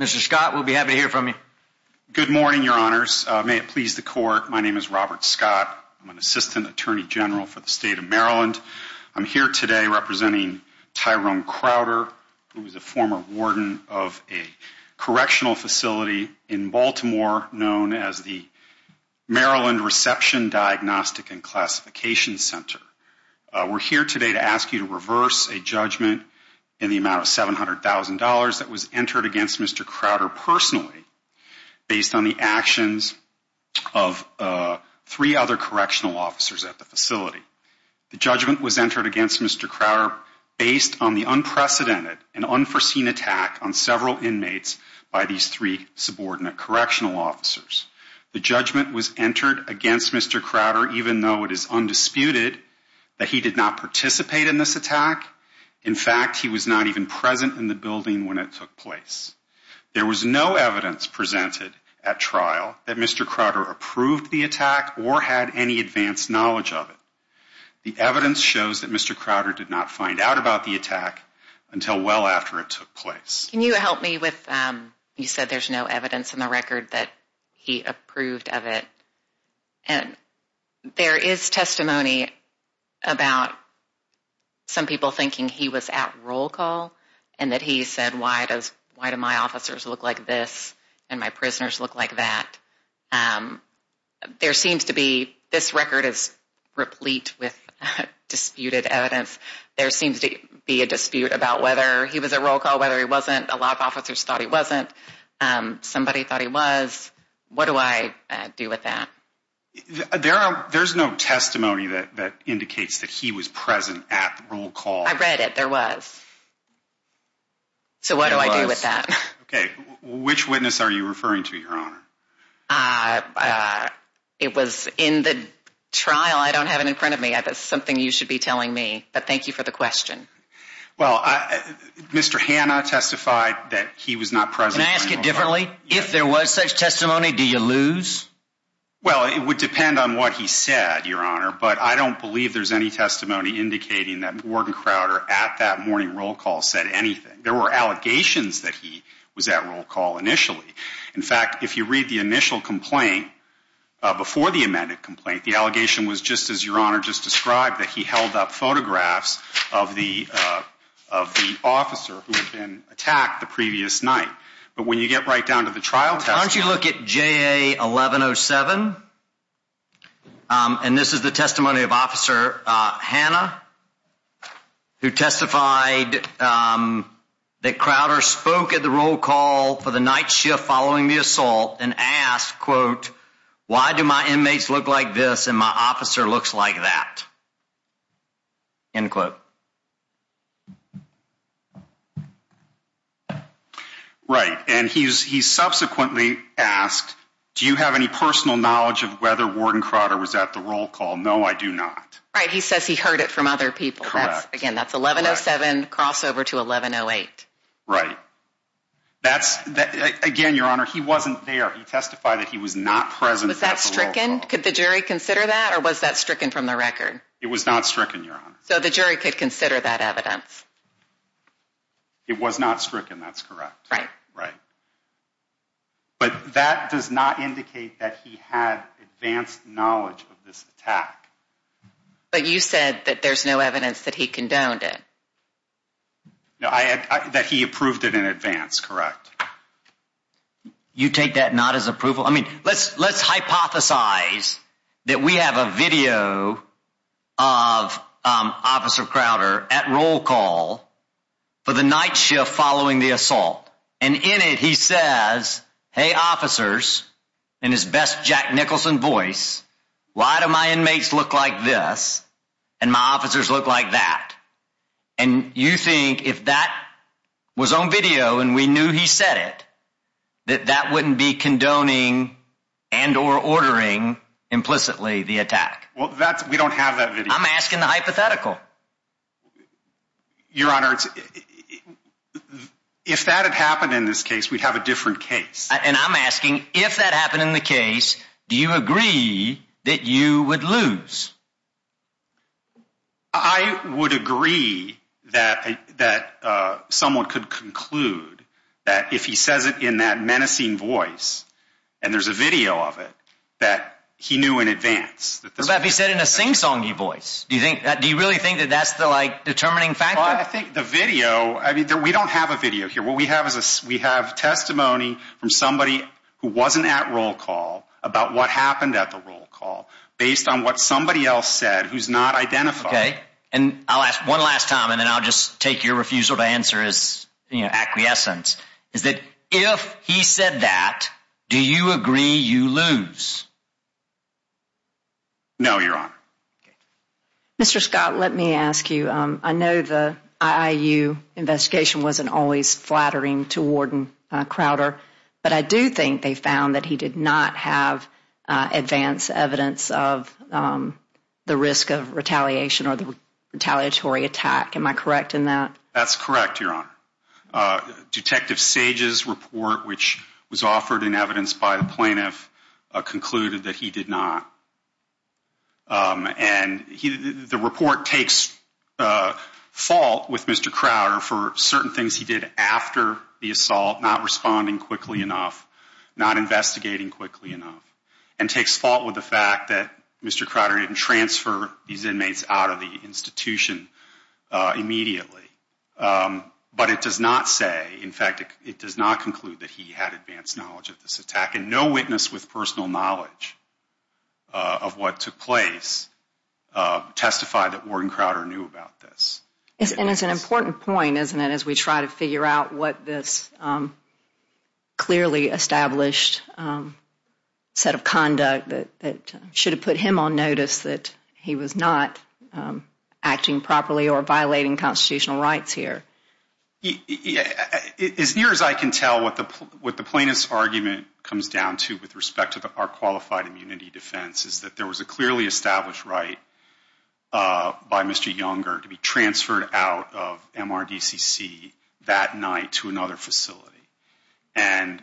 Mr. Scott, we'll be happy to hear from you. Good morning, your honors. May it please the court, my name is Robert Scott. I'm an assistant attorney general for the state of Maryland. I'm here today representing Tyrone Crowder, who is a former warden of a correctional facility in Baltimore known as the Maryland Reception, Diagnostic, and Classification Center. We're here today to ask you to reverse a judgment in the amount of $700,000 that was entered against Mr. Crowder personally, based on the actions of three other correctional officers at the facility. The judgment was entered against Mr. Crowder based on the unprecedented and unforeseen attack on several inmates by these three subordinate correctional officers. The judgment was entered against Mr. Crowder even though it is undisputed that he did not participate in this attack. In fact, he was not even present in the building when it took place. There was no evidence presented at trial that Mr. Crowder approved the attack or had any advanced knowledge of it. The evidence shows that Mr. Crowder did not find out about the attack until well after it took place. Can you help me with, you said there's no evidence in the record that he approved of it. And there is testimony about some people thinking he was at roll call and that he said, why do my officers look like this and my prisoners look like that? There seems to be, this record is replete with disputed evidence. There seems to be a dispute about whether he was at roll call, whether he wasn't. A lot of officers thought he wasn't. Somebody thought he was. What do I do with that? There's no testimony that indicates that he was present at roll call. I read it, there was. So what do I do with that? Okay, which witness are you referring to, Your Honor? It was in the trial. I don't have it in front of me. That's something you should be telling me, but thank you for the question. Well, Mr. Hanna testified that he was not present. Can I ask it differently? If there was such testimony, do you lose? Well, it would depend on what he said, Your Honor, but I don't believe there's any testimony indicating that Warden Crowder at that morning roll call said anything. There were allegations that he was at roll call initially. In fact, if you read the initial complaint before the amended complaint, the allegation was just as Your Honor just described, that he held up photographs of the officer who had been attacked the previous night. But when you get right down to the trial testimony. Why don't you look at JA 1107? And this is the testimony of Officer Hanna, who testified that Crowder spoke at the roll call for the night shift following the assault and asked, quote, why do my inmates look like this and my officer looks like that? End quote. Right, and he subsequently asked, do you have any personal knowledge of whether Warden Crowder was at the roll call? No, I do not. Right, he says he heard it from other people. Correct. Again, that's 1107 crossover to 1108. Right. Again, Your Honor, he wasn't there. He testified that he was not present at the roll call. Was that stricken? Could the jury consider that It was not stricken, Your Honor. So the jury could consider that? Yes, Your Honor. The jury could consider that evidence. It was not stricken, that's correct. Right. Right. But that does not indicate that he had advanced knowledge of this attack. But you said that there's no evidence that he condoned it. No, that he approved it in advance, correct. You take that not as approval? I mean, let's hypothesize that we have a video of Officer Crowder at roll call for the night shift following the assault. And in it, he says, hey, officers, in his best Jack Nicholson voice, why do my inmates look like this and my officers look like that? And you think if that was on video and we knew he said it, that that wouldn't be condoning and or ordering implicitly the attack? Well, we don't have that video. I'm asking the hypothetical. Your Honor, if that had happened in this case, we'd have a different case. And I'm asking, if that happened in the case, do you agree that you would lose? I would agree that someone could conclude that if he says it in that menacing voice and there's a video of it, that he knew in advance. What about if he said it in a sing-songy voice? Do you really think that that's the determining factor? I think the video, I mean, we don't have a video here. What we have is we have testimony from somebody who wasn't at roll call about what happened at the roll call based on what somebody else said who's not identified. And I'll ask one last time, and then I'll just take your refusal to answer as acquiescence, is that if he said that, do you agree you lose? No, Your Honor. Mr. Scott, let me ask you. I know the IIU investigation wasn't always flattering to Warden Crowder, but I do think they found that he did not have advance evidence of the risk of retaliation or the retaliatory attack. Am I correct in that? That's correct, Your Honor. Detective Sage's report, which was offered in evidence by the plaintiff, concluded that he did not. And the report takes fault with Mr. Crowder for certain things he did after the assault, not responding quickly enough, not investigating quickly enough, and takes fault with the fact that Mr. Crowder didn't transfer these inmates out of the institution immediately. But it does not say, in fact, it does not conclude that he had advanced knowledge of this attack, and no witness with personal knowledge of what took place testified that Warden Crowder knew about this. And it's an important point, isn't it, as we try to figure out what this clearly established set of conduct that should have put him on notice that he was not acting properly or violating constitutional rights here. As near as I can tell, what the plaintiff's argument comes down to with respect to our qualified immunity defense is that there was a clearly established right by Mr. Younger to be transferred out of MRDCC that night to another facility. And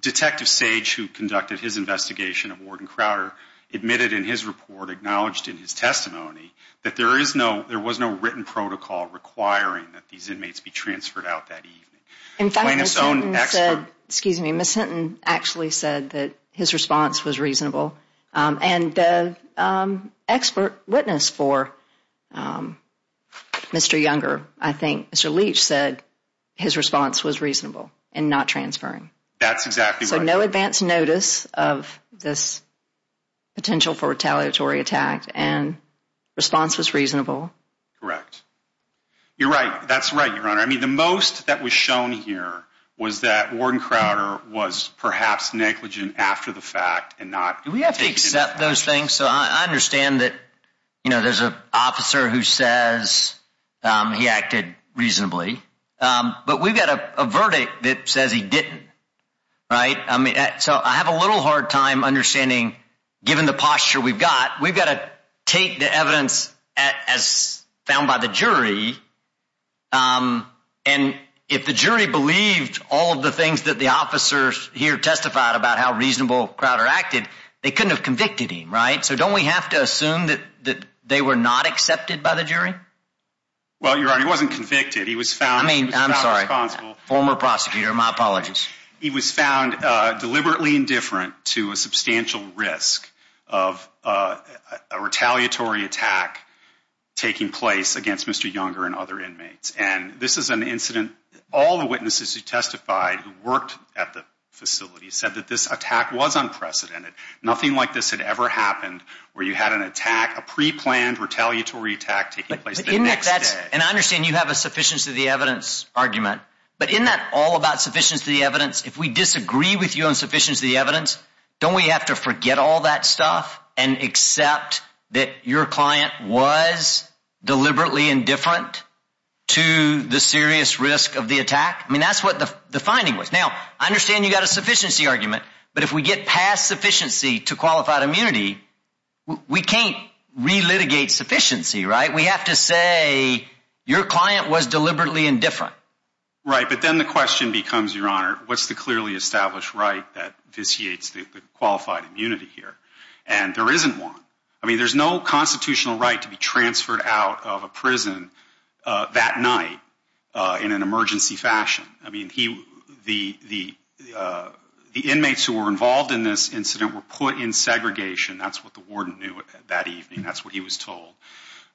Detective Sage, who conducted his investigation of Warden Crowder, admitted in his report, acknowledged in his testimony, that there was no written protocol requiring that these inmates be transferred out that evening. In fact, Ms. Hinton said, excuse me, Ms. Hinton actually said that his response was reasonable. And expert witness for Mr. Younger, I think Mr. Leach said his response was reasonable in not transferring. That's exactly right. So no advance notice of this potential for retaliatory attack. And response was reasonable. Correct. You're right. That's right, Your Honor. I mean, the most that was shown here was that Warden Crowder was perhaps negligent after the fact and not- Do we have to accept those things? So I understand that, you know, there's an officer who says he acted reasonably, but we've got a verdict that says he didn't, right? I mean, so I have a little hard time understanding, given the posture we've got, we've got to take the evidence as found by the jury. And if the jury believed all of the things that the officers here testified about how reasonable Crowder acted, they couldn't have convicted him, right? So don't we have to assume that they were not accepted by the jury? Well, Your Honor, he wasn't convicted. He was found- I mean, I'm sorry, former prosecutor, my apologies. He was found deliberately indifferent to a substantial risk of a retaliatory attack taking place against Mr. Younger and other inmates. And this is an incident, all the witnesses who testified who worked at the facility said that this attack was unprecedented. Nothing like this had ever happened where you had an attack, a pre-planned retaliatory attack taking place the next day. And I understand you have but isn't that all about sufficiency of the evidence? If we disagree with you on sufficiency of the evidence, don't we have to forget all that stuff and accept that your client was deliberately indifferent to the serious risk of the attack? I mean, that's what the finding was. Now, I understand you got a sufficiency argument, but if we get past sufficiency to qualified immunity, we can't re-litigate sufficiency, right? We have to say your client was deliberately indifferent. Right, but then the question becomes, Your Honor, what's the clearly established right that vitiates the qualified immunity here? And there isn't one. I mean, there's no constitutional right to be transferred out of a prison that night in an emergency fashion. I mean, the inmates who were involved in this incident were put in segregation. That's what the warden knew that evening. That's what he was told.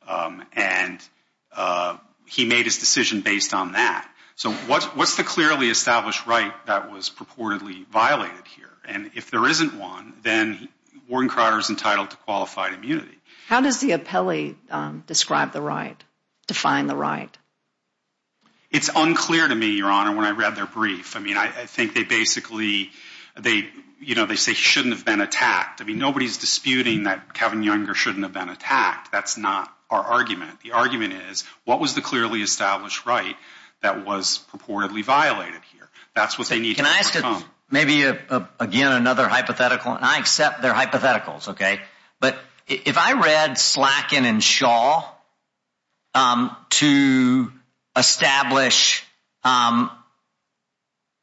And he made his decision based on that. So what's the clearly established right that was purportedly violated here? And if there isn't one, then Warren Carter's entitled to qualified immunity. How does the appellee describe the right, define the right? It's unclear to me, Your Honor, when I read their brief. I mean, I think they basically, they say he shouldn't have been attacked. I mean, nobody's disputing that Kevin Younger shouldn't have been attacked. That's not our argument. The argument is, what was the clearly established right that was purportedly violated here? That's what they need to overcome. Maybe again, another hypothetical, and I accept they're hypotheticals, okay? But if I read Slakin and Shaw to establish a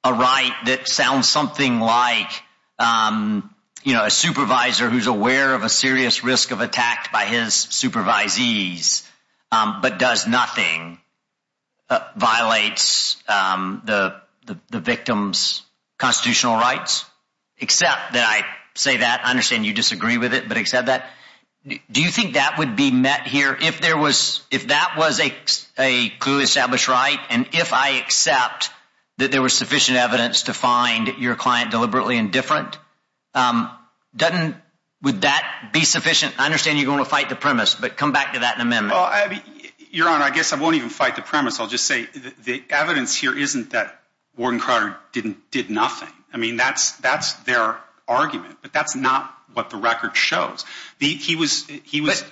right that sounds something like a supervisor who's aware of a serious risk of attack by his supervisees, but does nothing, violates the victim's constitutional rights, except that I say that, I understand you disagree with it, but except that, do you think that would be met here if that was a clearly established right? And if I accept that there was sufficient evidence to find your client deliberately indifferent, doesn't, would that be sufficient? I understand you're gonna fight the premise, but come back to that in amendment. Well, your Honor, I guess I won't even fight the premise. I'll just say the evidence here isn't that Warren Carter did nothing. I mean, that's their argument, but that's not what the record shows. He was-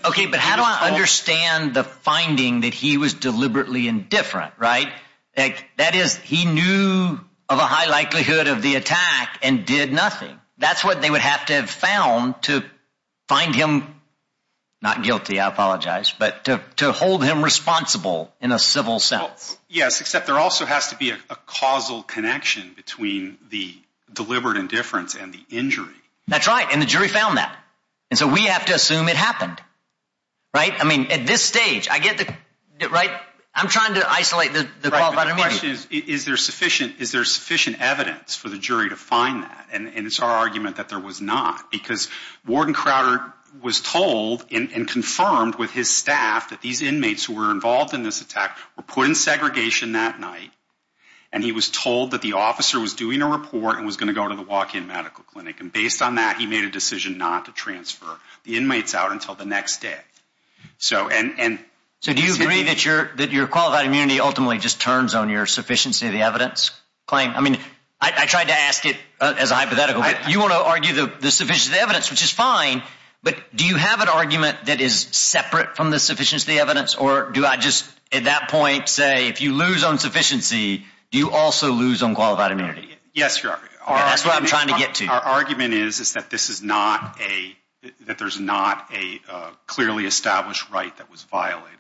Okay, but how do I understand the finding that he was deliberately indifferent, right? That is, he knew of a high likelihood of the attack and did nothing. That's what they would have to have found to find him, not guilty, I apologize, but to hold him responsible in a civil sense. Yes, except there also has to be a causal connection between the deliberate indifference and the injury. That's right, and the jury found that. And so we have to assume it happened, right? I mean, at this stage, I get that, right? I'm trying to isolate the qualified immediate. Is there sufficient evidence for the jury to find that? And it's our argument that there was not because Warren Carter was told and confirmed with his staff that these inmates who were involved in this attack were put in segregation that night. And he was told that the officer was doing a report and was gonna go to the walk-in medical clinic. And based on that, he made a decision not to transfer the inmates out until the next day. So, and- So do you agree that your qualified immunity ultimately just turns on your sufficiency of the evidence claim? I mean, I tried to ask it as a hypothetical, but you wanna argue the sufficiency of the evidence, which is fine, but do you have an argument that is separate from the sufficiency of the evidence, or do I just, at that point, say, if you lose on sufficiency, do you also lose on qualified immunity? Yes, you are. That's what I'm trying to get to. Our argument is that this is not a, that there's not a clearly established right that was violated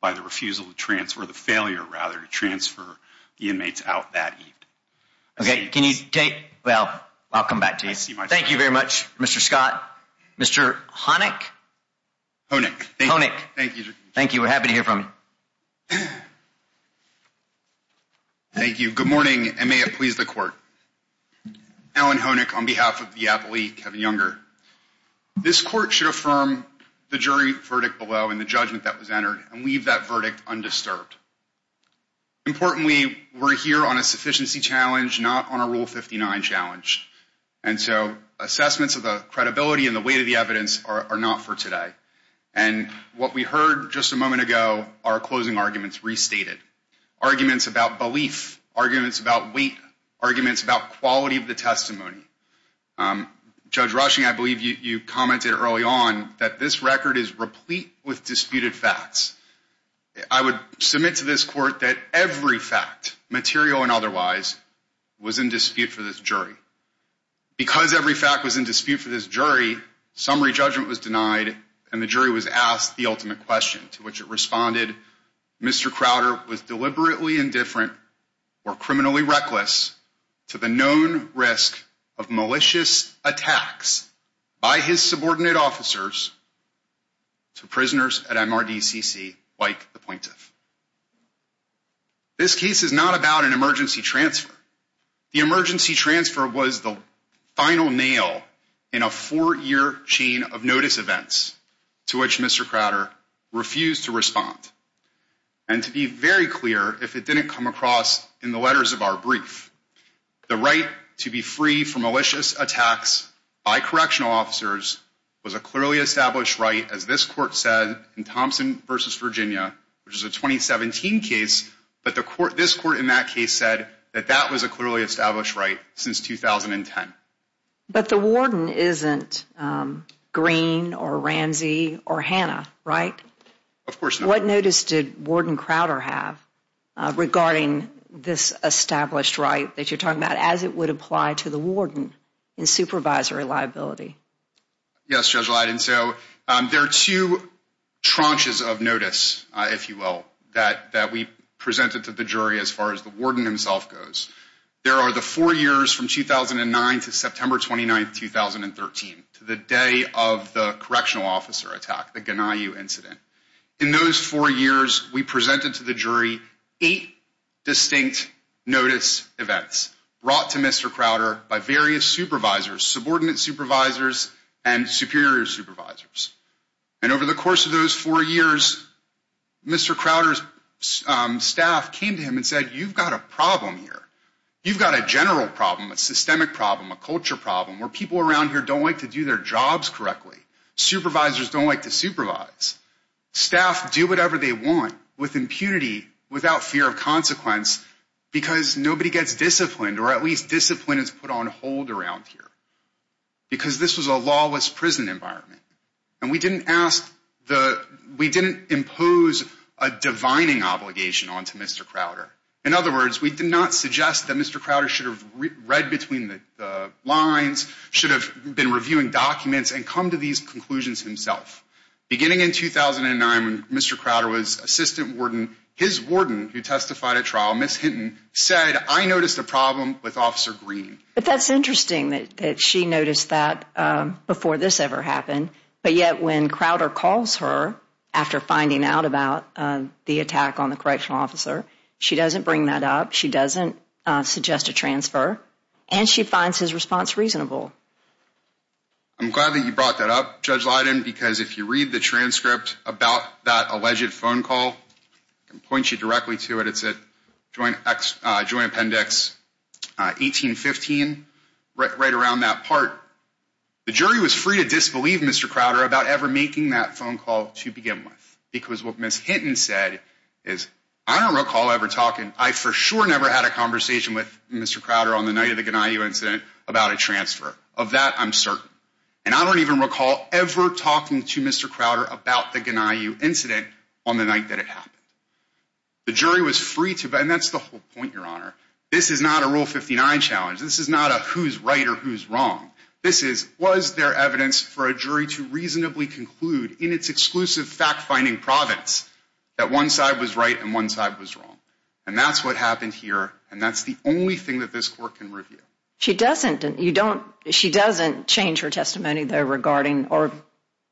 by the refusal to transfer, the failure, rather, to transfer the inmates out that evening. Okay, can you take, well, I'll come back to you. Thank you very much, Mr. Scott. Mr. Honick? Honick. Honick. Thank you. Thank you, we're happy to hear from you. Thank you. Good morning, and may it please the court. Alan Honick on behalf of the appellee, Kevin Younger. This court should affirm the jury verdict below and the judgment that was entered, and leave that verdict undisturbed. Importantly, we're here on a sufficiency challenge, not on a Rule 59 challenge. And so assessments of the credibility and the weight of the evidence are not for today. And what we heard just a moment ago, our closing arguments restated. Arguments about belief, arguments about weight, arguments about quality of the testimony. Judge Rushing, I believe you commented early on that this record is replete with disputed facts. I would submit to this court that every fact, material and otherwise, was in dispute for this jury. Because every fact was in dispute for this jury, summary judgment was denied, and the jury was asked the ultimate question to which it responded, Mr. Crowder was deliberately indifferent or criminally reckless to the known risk of malicious attacks by his subordinate officers to prisoners at MRDCC like the plaintiff. This case is not about an emergency transfer. The emergency transfer was the final nail in a four-year chain of notice events to which Mr. Crowder refused to respond. And to be very clear, if it didn't come across in the letters of our brief, the right to be free from malicious attacks by correctional officers was a clearly established right as this court said in Thompson versus Virginia, which is a 2017 case, but this court in that case said that that was a clearly established right since 2010. But the warden isn't Green or Ramsey or Hannah, right? Of course not. What notice did Warden Crowder have regarding this established right that you're talking about as it would apply to the warden in supervisory liability? Yes, Judge Leiden. And so there are two tranches of notice, if you will, that we presented to the jury as far as the warden himself goes. There are the four years from 2009 to September 29th, 2013, to the day of the correctional officer attack, the Ganayu incident. In those four years, we presented to the jury eight distinct notice events brought to Mr. Crowder by various supervisors, subordinate supervisors and superior supervisors. And over the course of those four years, Mr. Crowder's staff came to him and said, you've got a problem here. You've got a general problem, a systemic problem, a culture problem where people around here don't like to do their jobs correctly. Supervisors don't like to supervise. Staff do whatever they want with impunity without fear of consequence because nobody gets disciplined or at least discipline is put on hold around here because this was a lawless prison environment. And we didn't impose a divining obligation onto Mr. Crowder. In other words, we did not suggest that Mr. Crowder should have read between the lines, should have been reviewing documents and come to these conclusions himself. Beginning in 2009, when Mr. Crowder was assistant warden, his warden who testified at trial, Miss Hinton, said, I noticed a problem with Officer Green. But that's interesting that she noticed that before this ever happened, but yet when Crowder calls her after finding out about the attack on the correctional officer, she doesn't bring that up. She doesn't suggest a transfer and she finds his response reasonable. I'm glad that you brought that up, Judge Leiden, because if you read the transcript about that alleged phone call, I can point you directly to it. It's at Joint Appendix 1815, right around that part. The jury was free to disbelieve Mr. Crowder about ever making that phone call to begin with, because what Miss Hinton said is, I don't recall ever talking, I for sure never had a conversation with Mr. Crowder on the night of the Ganiyu incident about a transfer. Of that, I'm certain. And I don't even recall ever talking to Mr. Crowder about the Ganiyu incident on the night that it happened. The jury was free to, and that's the whole point, Your Honor. This is not a Rule 59 challenge. This is not a who's right or who's wrong. This is, was there evidence for a jury to reasonably conclude in its exclusive fact-finding province that one side was right and one side was wrong? And that's what happened here. And that's the only thing that this court can review. She doesn't, you don't, she doesn't change her testimony though regarding, or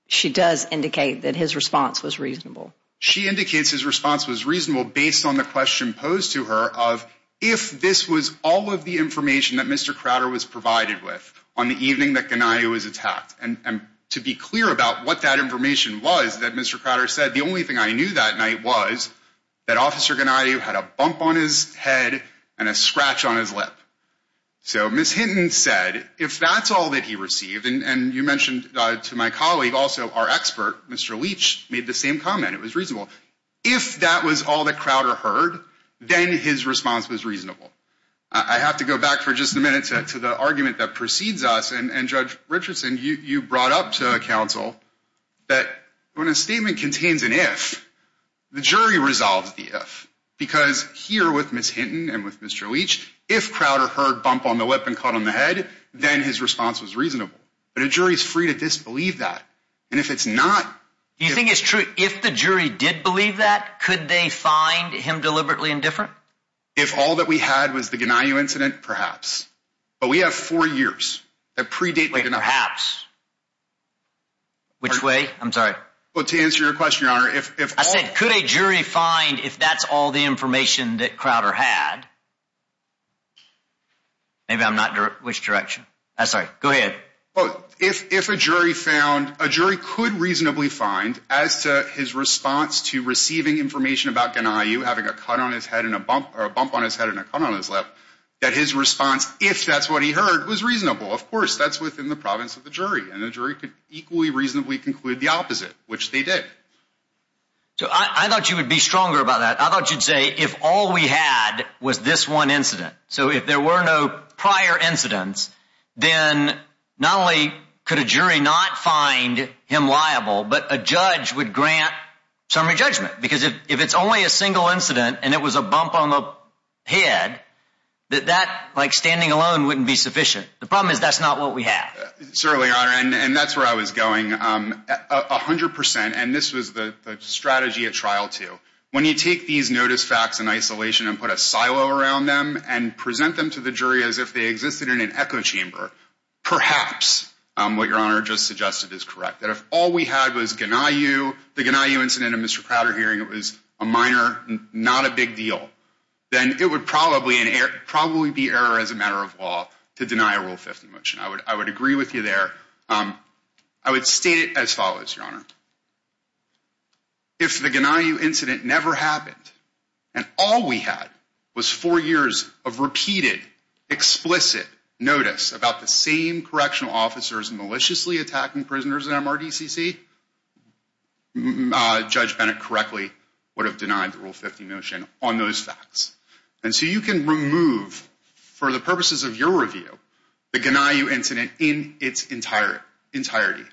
she does indicate that his response was reasonable. She indicates his response was reasonable based on the question posed to her of, if this was all of the information that Mr. Crowder was provided with on the evening that Ganiyu was attacked. And to be clear about what that information was that Mr. Crowder said, the only thing I knew that night was that Officer Ganiyu had a bump on his head and a scratch on his lip. So Ms. Hinton said, if that's all that he received, and you mentioned to my colleague also, our expert, Mr. Leach, made the same comment. It was reasonable. If that was all that Crowder heard, then his response was reasonable. I have to go back for just a minute to the argument that precedes us. And Judge Richardson, you brought up to counsel that when a statement contains an if, the jury resolves the if. Because here with Ms. Hinton and with Mr. Leach, if Crowder heard bump on the lip and cut on the head, then his response was reasonable. But a jury is free to disbelieve that. And if it's not- Do you think it's true, if the jury did believe that, could they find him deliberately indifferent? If all that we had was the Ganiyu incident, perhaps. But we have four years. That predate- Perhaps. Which way? I'm sorry. Well, to answer your question, Your Honor, if- I said, could a jury find if that's all the information that Crowder had? Maybe I'm not, which direction? I'm sorry, go ahead. If a jury found, a jury could reasonably find as to his response to receiving information about Ganiyu having a cut on his head and a bump, or a bump on his head and a cut on his lip, that his response, if that's what he heard, was reasonable. Of course, that's within the province of the jury. And the jury could equally reasonably conclude the opposite, which they did. So I thought you would be stronger about that. I thought you'd say, if all we had was this one incident, so if there were no prior incidents, then not only could a jury not find him liable, but a judge would grant summary judgment. Because if it's only a single incident and it was a bump on the head, that that, like standing alone, wouldn't be sufficient. The problem is that's not what we have. Certainly, Your Honor, and that's where I was going. A hundred percent, and this was the strategy at trial too, when you take these notice facts in isolation and put a silo around them and present them to the jury as if they existed in an echo chamber, perhaps what Your Honor just suggested is correct. That if all we had was Ganiyu, the Ganiyu incident in Mr. Prowder hearing, it was a minor, not a big deal, then it would probably be error as a matter of law to deny a Rule 50 motion. I would agree with you there. I would state it as follows, Your Honor. If the Ganiyu incident never happened and all we had was four years of repeated, explicit notice about the same correctional officers maliciously attacking prisoners at MRDCC, Judge Bennett correctly would have denied the Rule 50 motion on those facts. And so you can remove, for the purposes of your review, the Ganiyu incident in its entirety.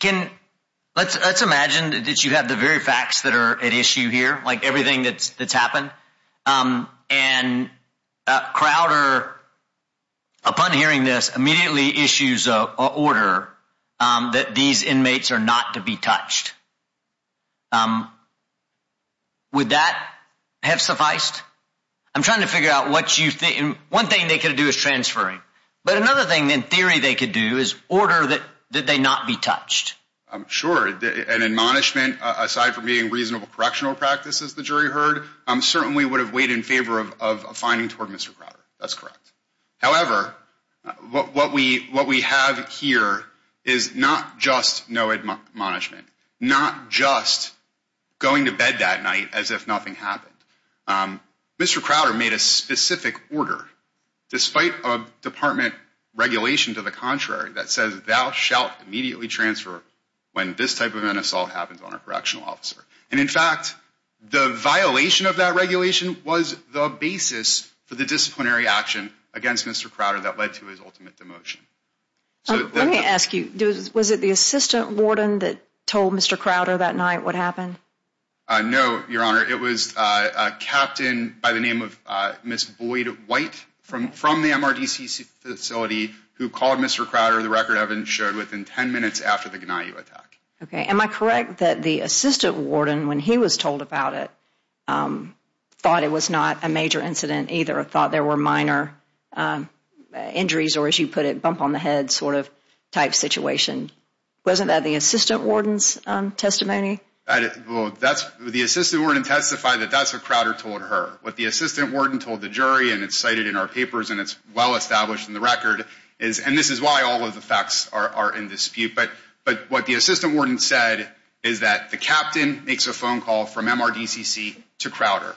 Can, let's imagine that you have the very facts that are at issue here, like everything that's happened. And Crowder, upon hearing this, immediately issues a order that these inmates are not to be touched. Would that have sufficed? I'm trying to figure out what you think. One thing they could have done is they could have said, all they had to do is transferring. But another thing, in theory, they could do is order that they not be touched. Sure, an admonishment, aside from being reasonable correctional practice, as the jury heard, certainly would have weighed in favor of a finding toward Mr. Crowder. That's correct. However, what we have here is not just no admonishment, not just going to bed that night as if nothing happened. Mr. Crowder made a specific order despite a department regulation to the contrary that says thou shalt immediately transfer when this type of an assault happens on a correctional officer. And in fact, the violation of that regulation was the basis for the disciplinary action against Mr. Crowder that led to his ultimate demotion. Let me ask you, was it the assistant warden that told Mr. Crowder that night what happened? No, Your Honor, it was a captain by the name of Ms. Boyd White from the MRDC facility who called Mr. Crowder the record evidence showed within 10 minutes after the Gnaju attack. Okay, am I correct that the assistant warden, when he was told about it, thought it was not a major incident either, or thought there were minor injuries, or as you put it, bump on the head sort of type situation? Wasn't that the assistant warden's testimony? The assistant warden testified that that's what Crowder told her. What the assistant warden told the jury, and it's cited in our papers, and it's well-established in the record, and this is why all of the facts are in dispute, but what the assistant warden said is that the captain makes a phone call from MRDCC to Crowder.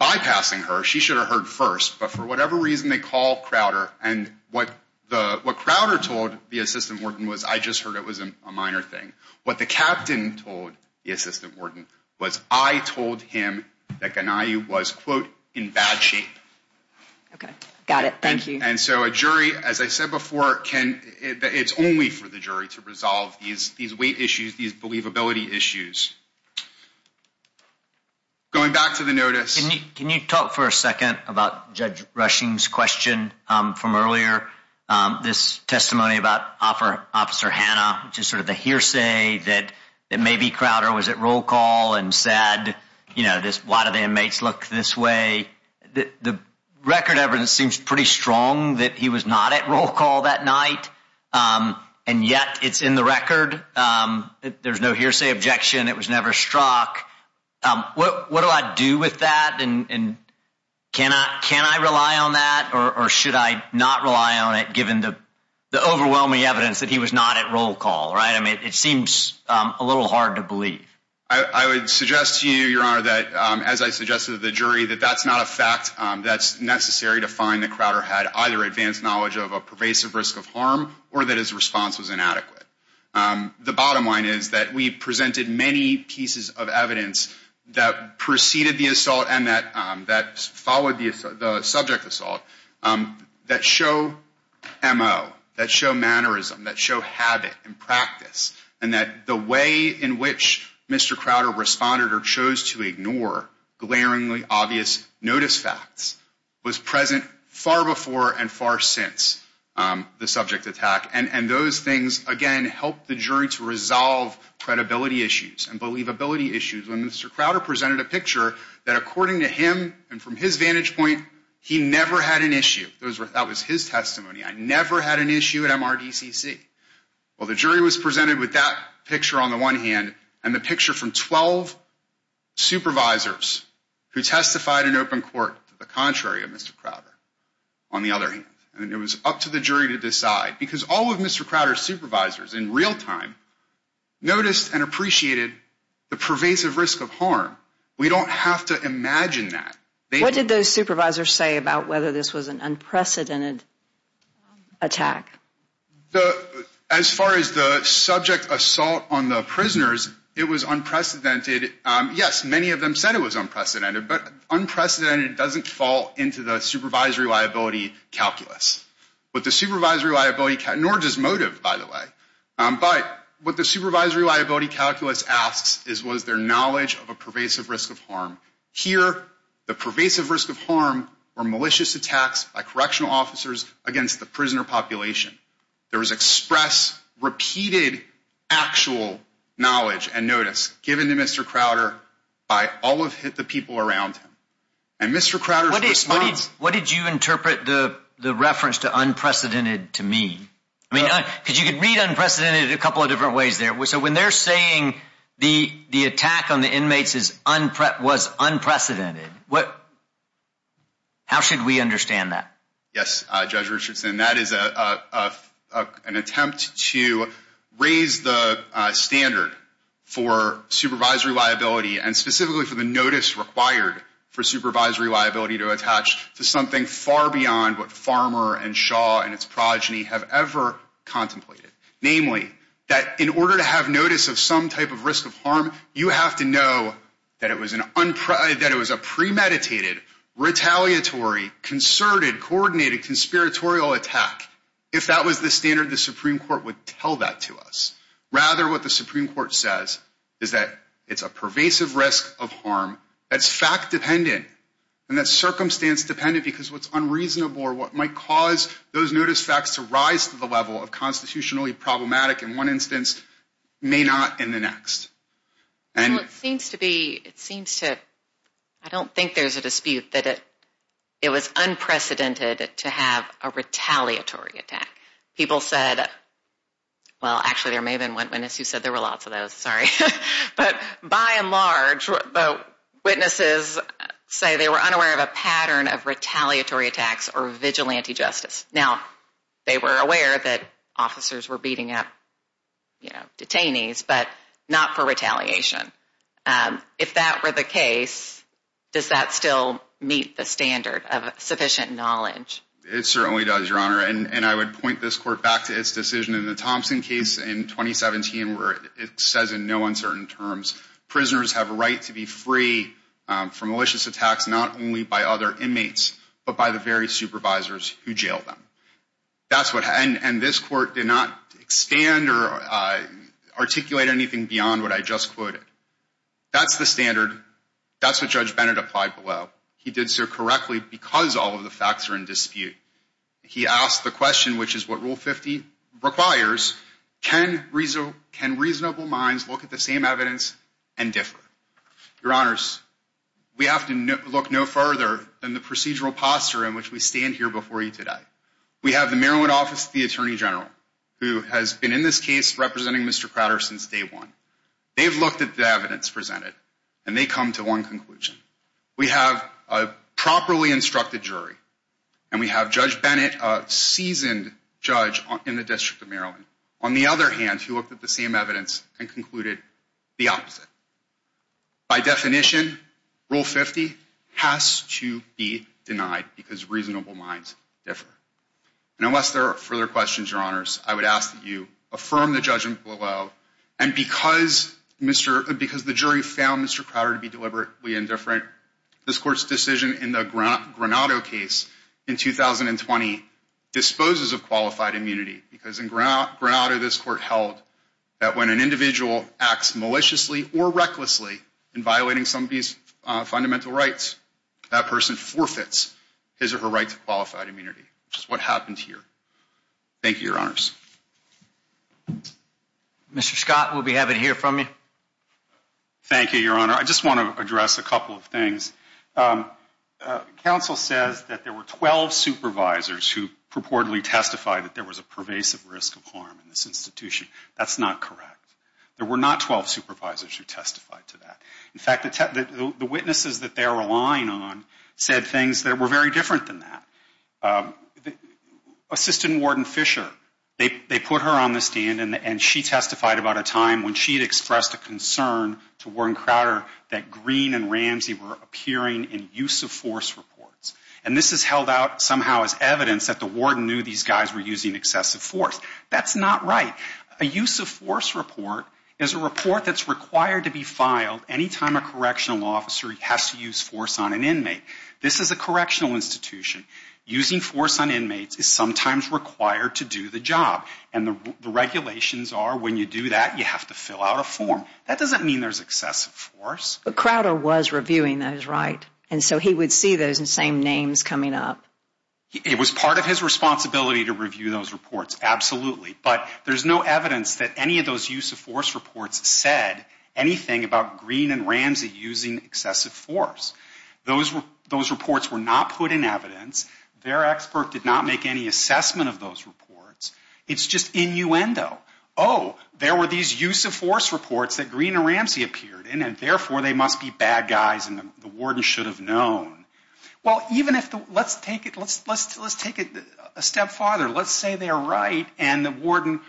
Bypassing her, she should have heard first, but for whatever reason, they call Crowder, and what Crowder told the assistant warden was I just heard it was a minor thing. What the captain told the assistant warden was I told him that Ghanayu was, quote, in bad shape. Okay, got it, thank you. And so a jury, as I said before, it's only for the jury to resolve these weight issues, these believability issues. Going back to the notice. Can you talk for a second about Judge Rushing's question from earlier, this testimony about Officer Hanna, just sort of the hearsay that maybe Crowder was at roll call and said, you know, why do the inmates look this way? The record evidence seems pretty strong that he was not at roll call that night, and yet it's in the record. There's no hearsay objection. It was never struck. What do I do with that, and can I rely on that, or should I not rely on it, given the overwhelming evidence that he was not at roll call, right? It seems a little hard to believe. I would suggest to you, Your Honor, that as I suggested to the jury, that that's not a fact that's necessary to find that Crowder had either advanced knowledge of a pervasive risk of harm or that his response was inadequate. The bottom line is that we presented many pieces of evidence that preceded the assault and that followed the subject assault that show MO, that show mannerism, that show habit and practice, and that the way in which Mr. Crowder responded or chose to ignore glaringly obvious notice facts was present far before and far since the subject attack, and those things, again, helped the jury to resolve credibility issues and believability issues. When Mr. Crowder presented a picture that according to him and from his vantage point, he never had an issue, that was his testimony, I never had an issue at MRDCC. Well, the jury was presented with that picture on the one hand and the picture from 12 supervisors who testified in open court to the contrary of Mr. Crowder on the other hand, and it was up to the jury to decide because all of Mr. Crowder's supervisors in real time noticed and appreciated the pervasive risk of harm. We don't have to imagine that. They- What did those supervisors say about whether this was an unprecedented attack? As far as the subject assault on the prisoners, it was unprecedented. Yes, many of them said it was unprecedented, but unprecedented doesn't fall into the supervisory liability calculus, but the supervisory liability, nor does motive, by the way, but what the supervisory liability calculus asks is was there knowledge of a pervasive risk of harm? Here, the pervasive risk of harm were malicious attacks by correctional officers against the prisoner population. There was express, repeated actual knowledge and notice given to Mr. Crowder by all of the people around him. And Mr. Crowder's response- What did you interpret the reference to unprecedented to mean? I mean, because you could read unprecedented in a couple of different ways there. So when they're saying the attack on the inmates was unprecedented, how should we understand that? Yes, Judge Richardson, that is an attempt to raise the standard for supervisory liability and specifically for the notice required for supervisory liability to attach to something far beyond what Farmer and Shaw and its progeny have ever contemplated. Namely, that in order to have notice of some type of risk of harm, you have to know that it was a premeditated, retaliatory, concerted, coordinated, conspiratorial attack. If that was the standard, the Supreme Court would tell that to us. Rather, what the Supreme Court says is that it's a pervasive risk of harm that's fact-dependent and that's circumstance-dependent because what's unreasonable or what might cause those notice facts to rise to the level of constitutionally problematic in one instance may not in the next. And it seems to be, it seems to, I don't think there's a dispute that it was unprecedented to have a retaliatory attack. People said, well, actually there may have been one witness who said there were lots of those, sorry. But by and large, the witnesses say they were unaware of a pattern of retaliatory attacks or vigilante justice. Now, they were aware that officers were beating up, you know, detainees, but not for retaliation. If that were the case, does that still meet the standard of sufficient knowledge? It certainly does, Your Honor. And I would point this court back to its decision in the Thompson case in 2017, where it says in no uncertain terms, prisoners have a right to be free from malicious attacks, not only by other inmates, but by the very supervisors who jailed them. That's what, and this court did not expand or articulate anything beyond what I just quoted. That's the standard. That's what Judge Bennett applied below. He did so correctly because all of the facts are in dispute. He asked the question, which is what Rule 50 requires, can reasonable minds look at the same evidence and differ? Your Honors, we have to look no further than the procedural posture in which we stand here before you today. We have the Maryland Office of the Attorney General, who has been in this case representing Mr. Crowder since day one. They've looked at the evidence presented, and they come to one conclusion. We have a properly instructed jury, and we have Judge Bennett, a seasoned judge in the District of Maryland. On the other hand, he looked at the same evidence and concluded the opposite. By definition, Rule 50 has to be denied because reasonable minds differ. And unless there are further questions, Your Honors, I would ask that you affirm the judgment below. And because the jury found Mr. Crowder to be deliberately indifferent, this court's decision in the Granado case in 2020 disposes of qualified immunity because in Granado, this court held that when an individual acts maliciously or recklessly in violating somebody's fundamental rights, that person forfeits his or her right to qualified immunity, which is what happened here. Thank you, Your Honors. Mr. Scott, we'll be happy to hear from you. Thank you, Your Honor. I just want to address a couple of things. Counsel says that there were 12 supervisors who purportedly testified that there was a pervasive risk of harm in this institution. That's not correct. There were not 12 supervisors who testified to that. In fact, the witnesses that they were relying on said things that were very different than that. Assistant Warden Fisher, they put her on the stand and she testified about a time when she had expressed a concern to Warren Crowder that Green and Ramsey were appearing in use-of-force reports. And this is held out somehow as evidence that the warden knew these guys were using excessive force. That's not right. A use-of-force report is a report that's required to be filed anytime a correctional officer has to use force on an inmate. This is a correctional institution. Using force on inmates is sometimes required to do the job. And the regulations are when you do that, you have to fill out a form. That doesn't mean there's excessive force. But Crowder was reviewing those, right? And so he would see those same names coming up. It was part of his responsibility to review those reports, absolutely. But there's no evidence that any of those use-of-force reports said anything about Green and Ramsey using excessive force. Those reports were not put in evidence. Their expert did not make any assessment of those reports. It's just innuendo. Oh, there were these use-of-force reports that Green and Ramsey appeared in, and therefore they must be bad guys and the warden should have known. Well, even if, let's take it a step farther. Let's say they're right and the warden,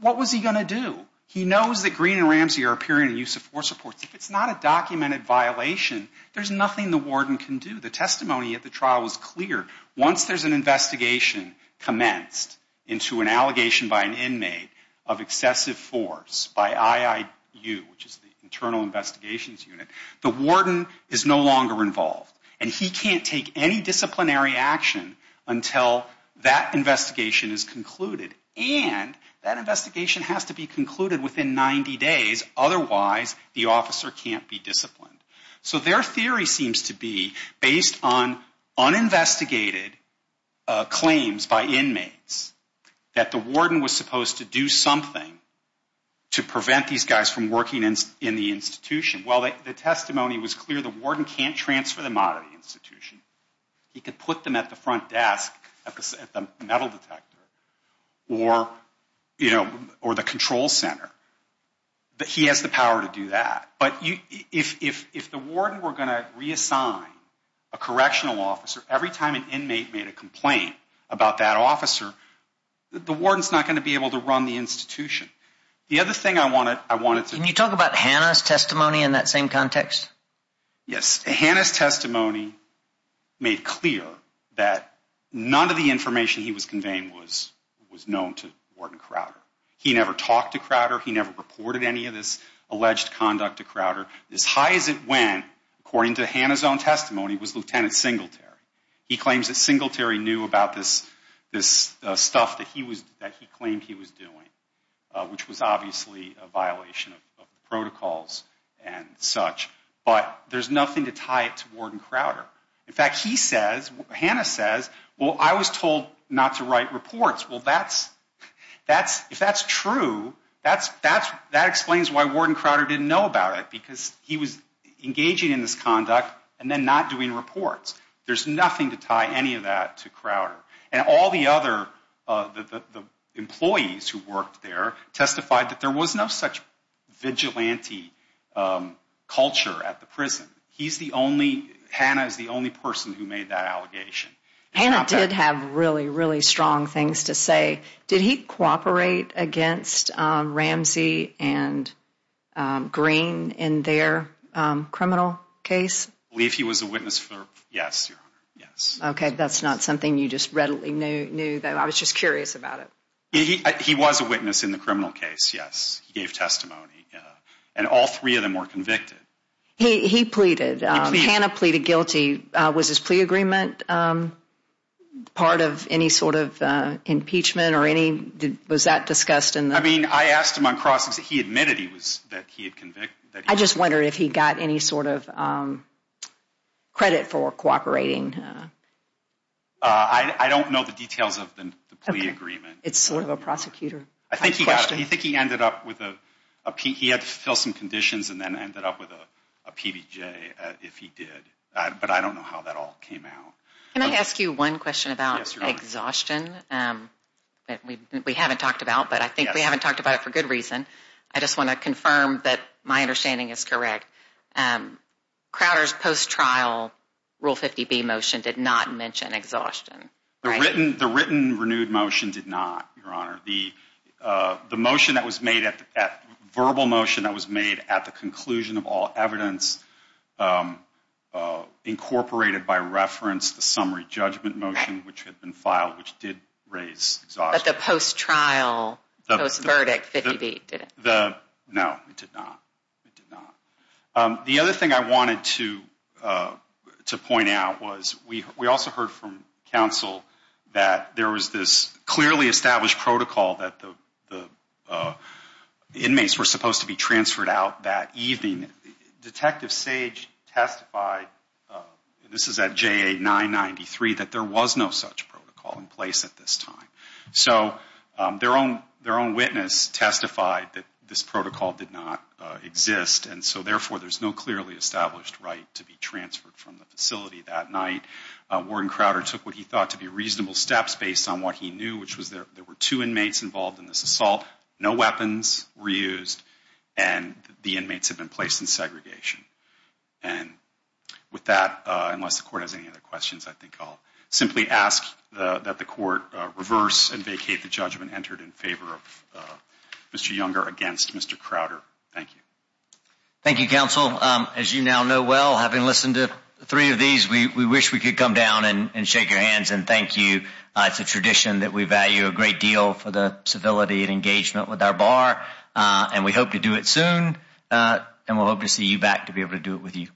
what was he gonna do? He knows that Green and Ramsey are appearing in use-of-force reports. If it's not a documented violation, there's nothing the warden can do. The testimony at the trial was clear. Once there's an investigation commenced into an allegation by an inmate of excessive force by IIU, which is the Internal Investigations Unit, the warden is no longer involved. And he can't take any disciplinary action until that investigation is concluded. And that investigation has to be concluded within 90 days. Otherwise, the officer can't be disciplined. So their theory seems to be, based on uninvestigated claims by inmates, that the warden was supposed to do something to prevent these guys from working in the institution. Well, the testimony was clear. The warden can't transfer them out of the institution. He could put them at the front desk, at the metal detector, or the control center. But he has the power to do that. But if the warden were gonna reassign a correctional officer every time an inmate made a complaint about that officer, the warden's not gonna be able to run the institution. The other thing I wanted to- Can you talk about Hannah's testimony in that same context? Yes, Hannah's testimony made clear that none of the information he was conveying was known to Warden Crowder. He never talked to Crowder. He never reported any of this alleged conduct to Crowder. As high as it went, according to Hannah's own testimony, was Lieutenant Singletary. He claims that Singletary knew about this stuff that he claimed he was doing, which was obviously a violation of the protocols and such. But there's nothing to tie it to Warden Crowder. In fact, he says, Hannah says, well, I was told not to write reports. Well, if that's true, that explains why Warden Crowder didn't know about it because he was engaging in this conduct and then not doing reports. There's nothing to tie any of that to Crowder. And all the other employees who worked there testified that there was no such vigilante culture at the prison. He's the only, Hannah is the only person who made that allegation. Hannah did have really, really strong things to say. Did he cooperate against Ramsey and Green in their criminal case? I believe he was a witness for, yes, Your Honor, yes. Okay, that's not something you just readily knew, though I was just curious about it. He was a witness in the criminal case, yes. He gave testimony. And all three of them were convicted. He pleaded, Hannah pleaded guilty. Was his plea agreement part of any sort of impeachment or any, was that discussed in the- I mean, I asked him on crossings, he admitted he was, that he had convicted. I just wonder if he got any sort of credit for cooperating. I don't know the details of the plea agreement. It's sort of a prosecutor question. I think he got, I think he ended up with a, he had to fill some conditions and then ended up with a PBJ if he did. But I don't know how that all came out. Can I ask you one question about exhaustion? That we haven't talked about, but I think we haven't talked about it for good reason. I just want to confirm that my understanding is correct. Crowder's post-trial Rule 50B motion did not mention exhaustion, right? The written renewed motion did not, Your Honor. The motion that was made at, verbal motion that was made at the conclusion of all evidence, incorporated by reference, the summary judgment motion, which had been filed, which did raise exhaustion. But the post-trial, post-verdict 50B didn't. No, it did not. It did not. The other thing I wanted to point out was we also heard from counsel that there was this clearly established protocol that the inmates were supposed to be transferred out that evening. Detective Sage testified, this is at JA 993, that there was no such protocol in place at this time. So their own witness testified that this protocol did not exist. And so therefore, there's no clearly established right to be transferred from the facility that night. Warren Crowder took what he thought to be reasonable steps based on what he knew, which was there were two inmates involved in this assault, no weapons reused, and the inmates had been placed in segregation. And with that, unless the court has any other questions, I think I'll simply ask that the court reverse and vacate the judgment entered in favor of Mr. Younger against Mr. Crowder. Thank you. Thank you, counsel. As you now know well, having listened to three of these, we wish we could come down and shake your hands and thank you. It's a tradition that we value a great deal for the civility and engagement with our bar, and we hope to do it soon. And we'll hope to see you back to be able to do it with you.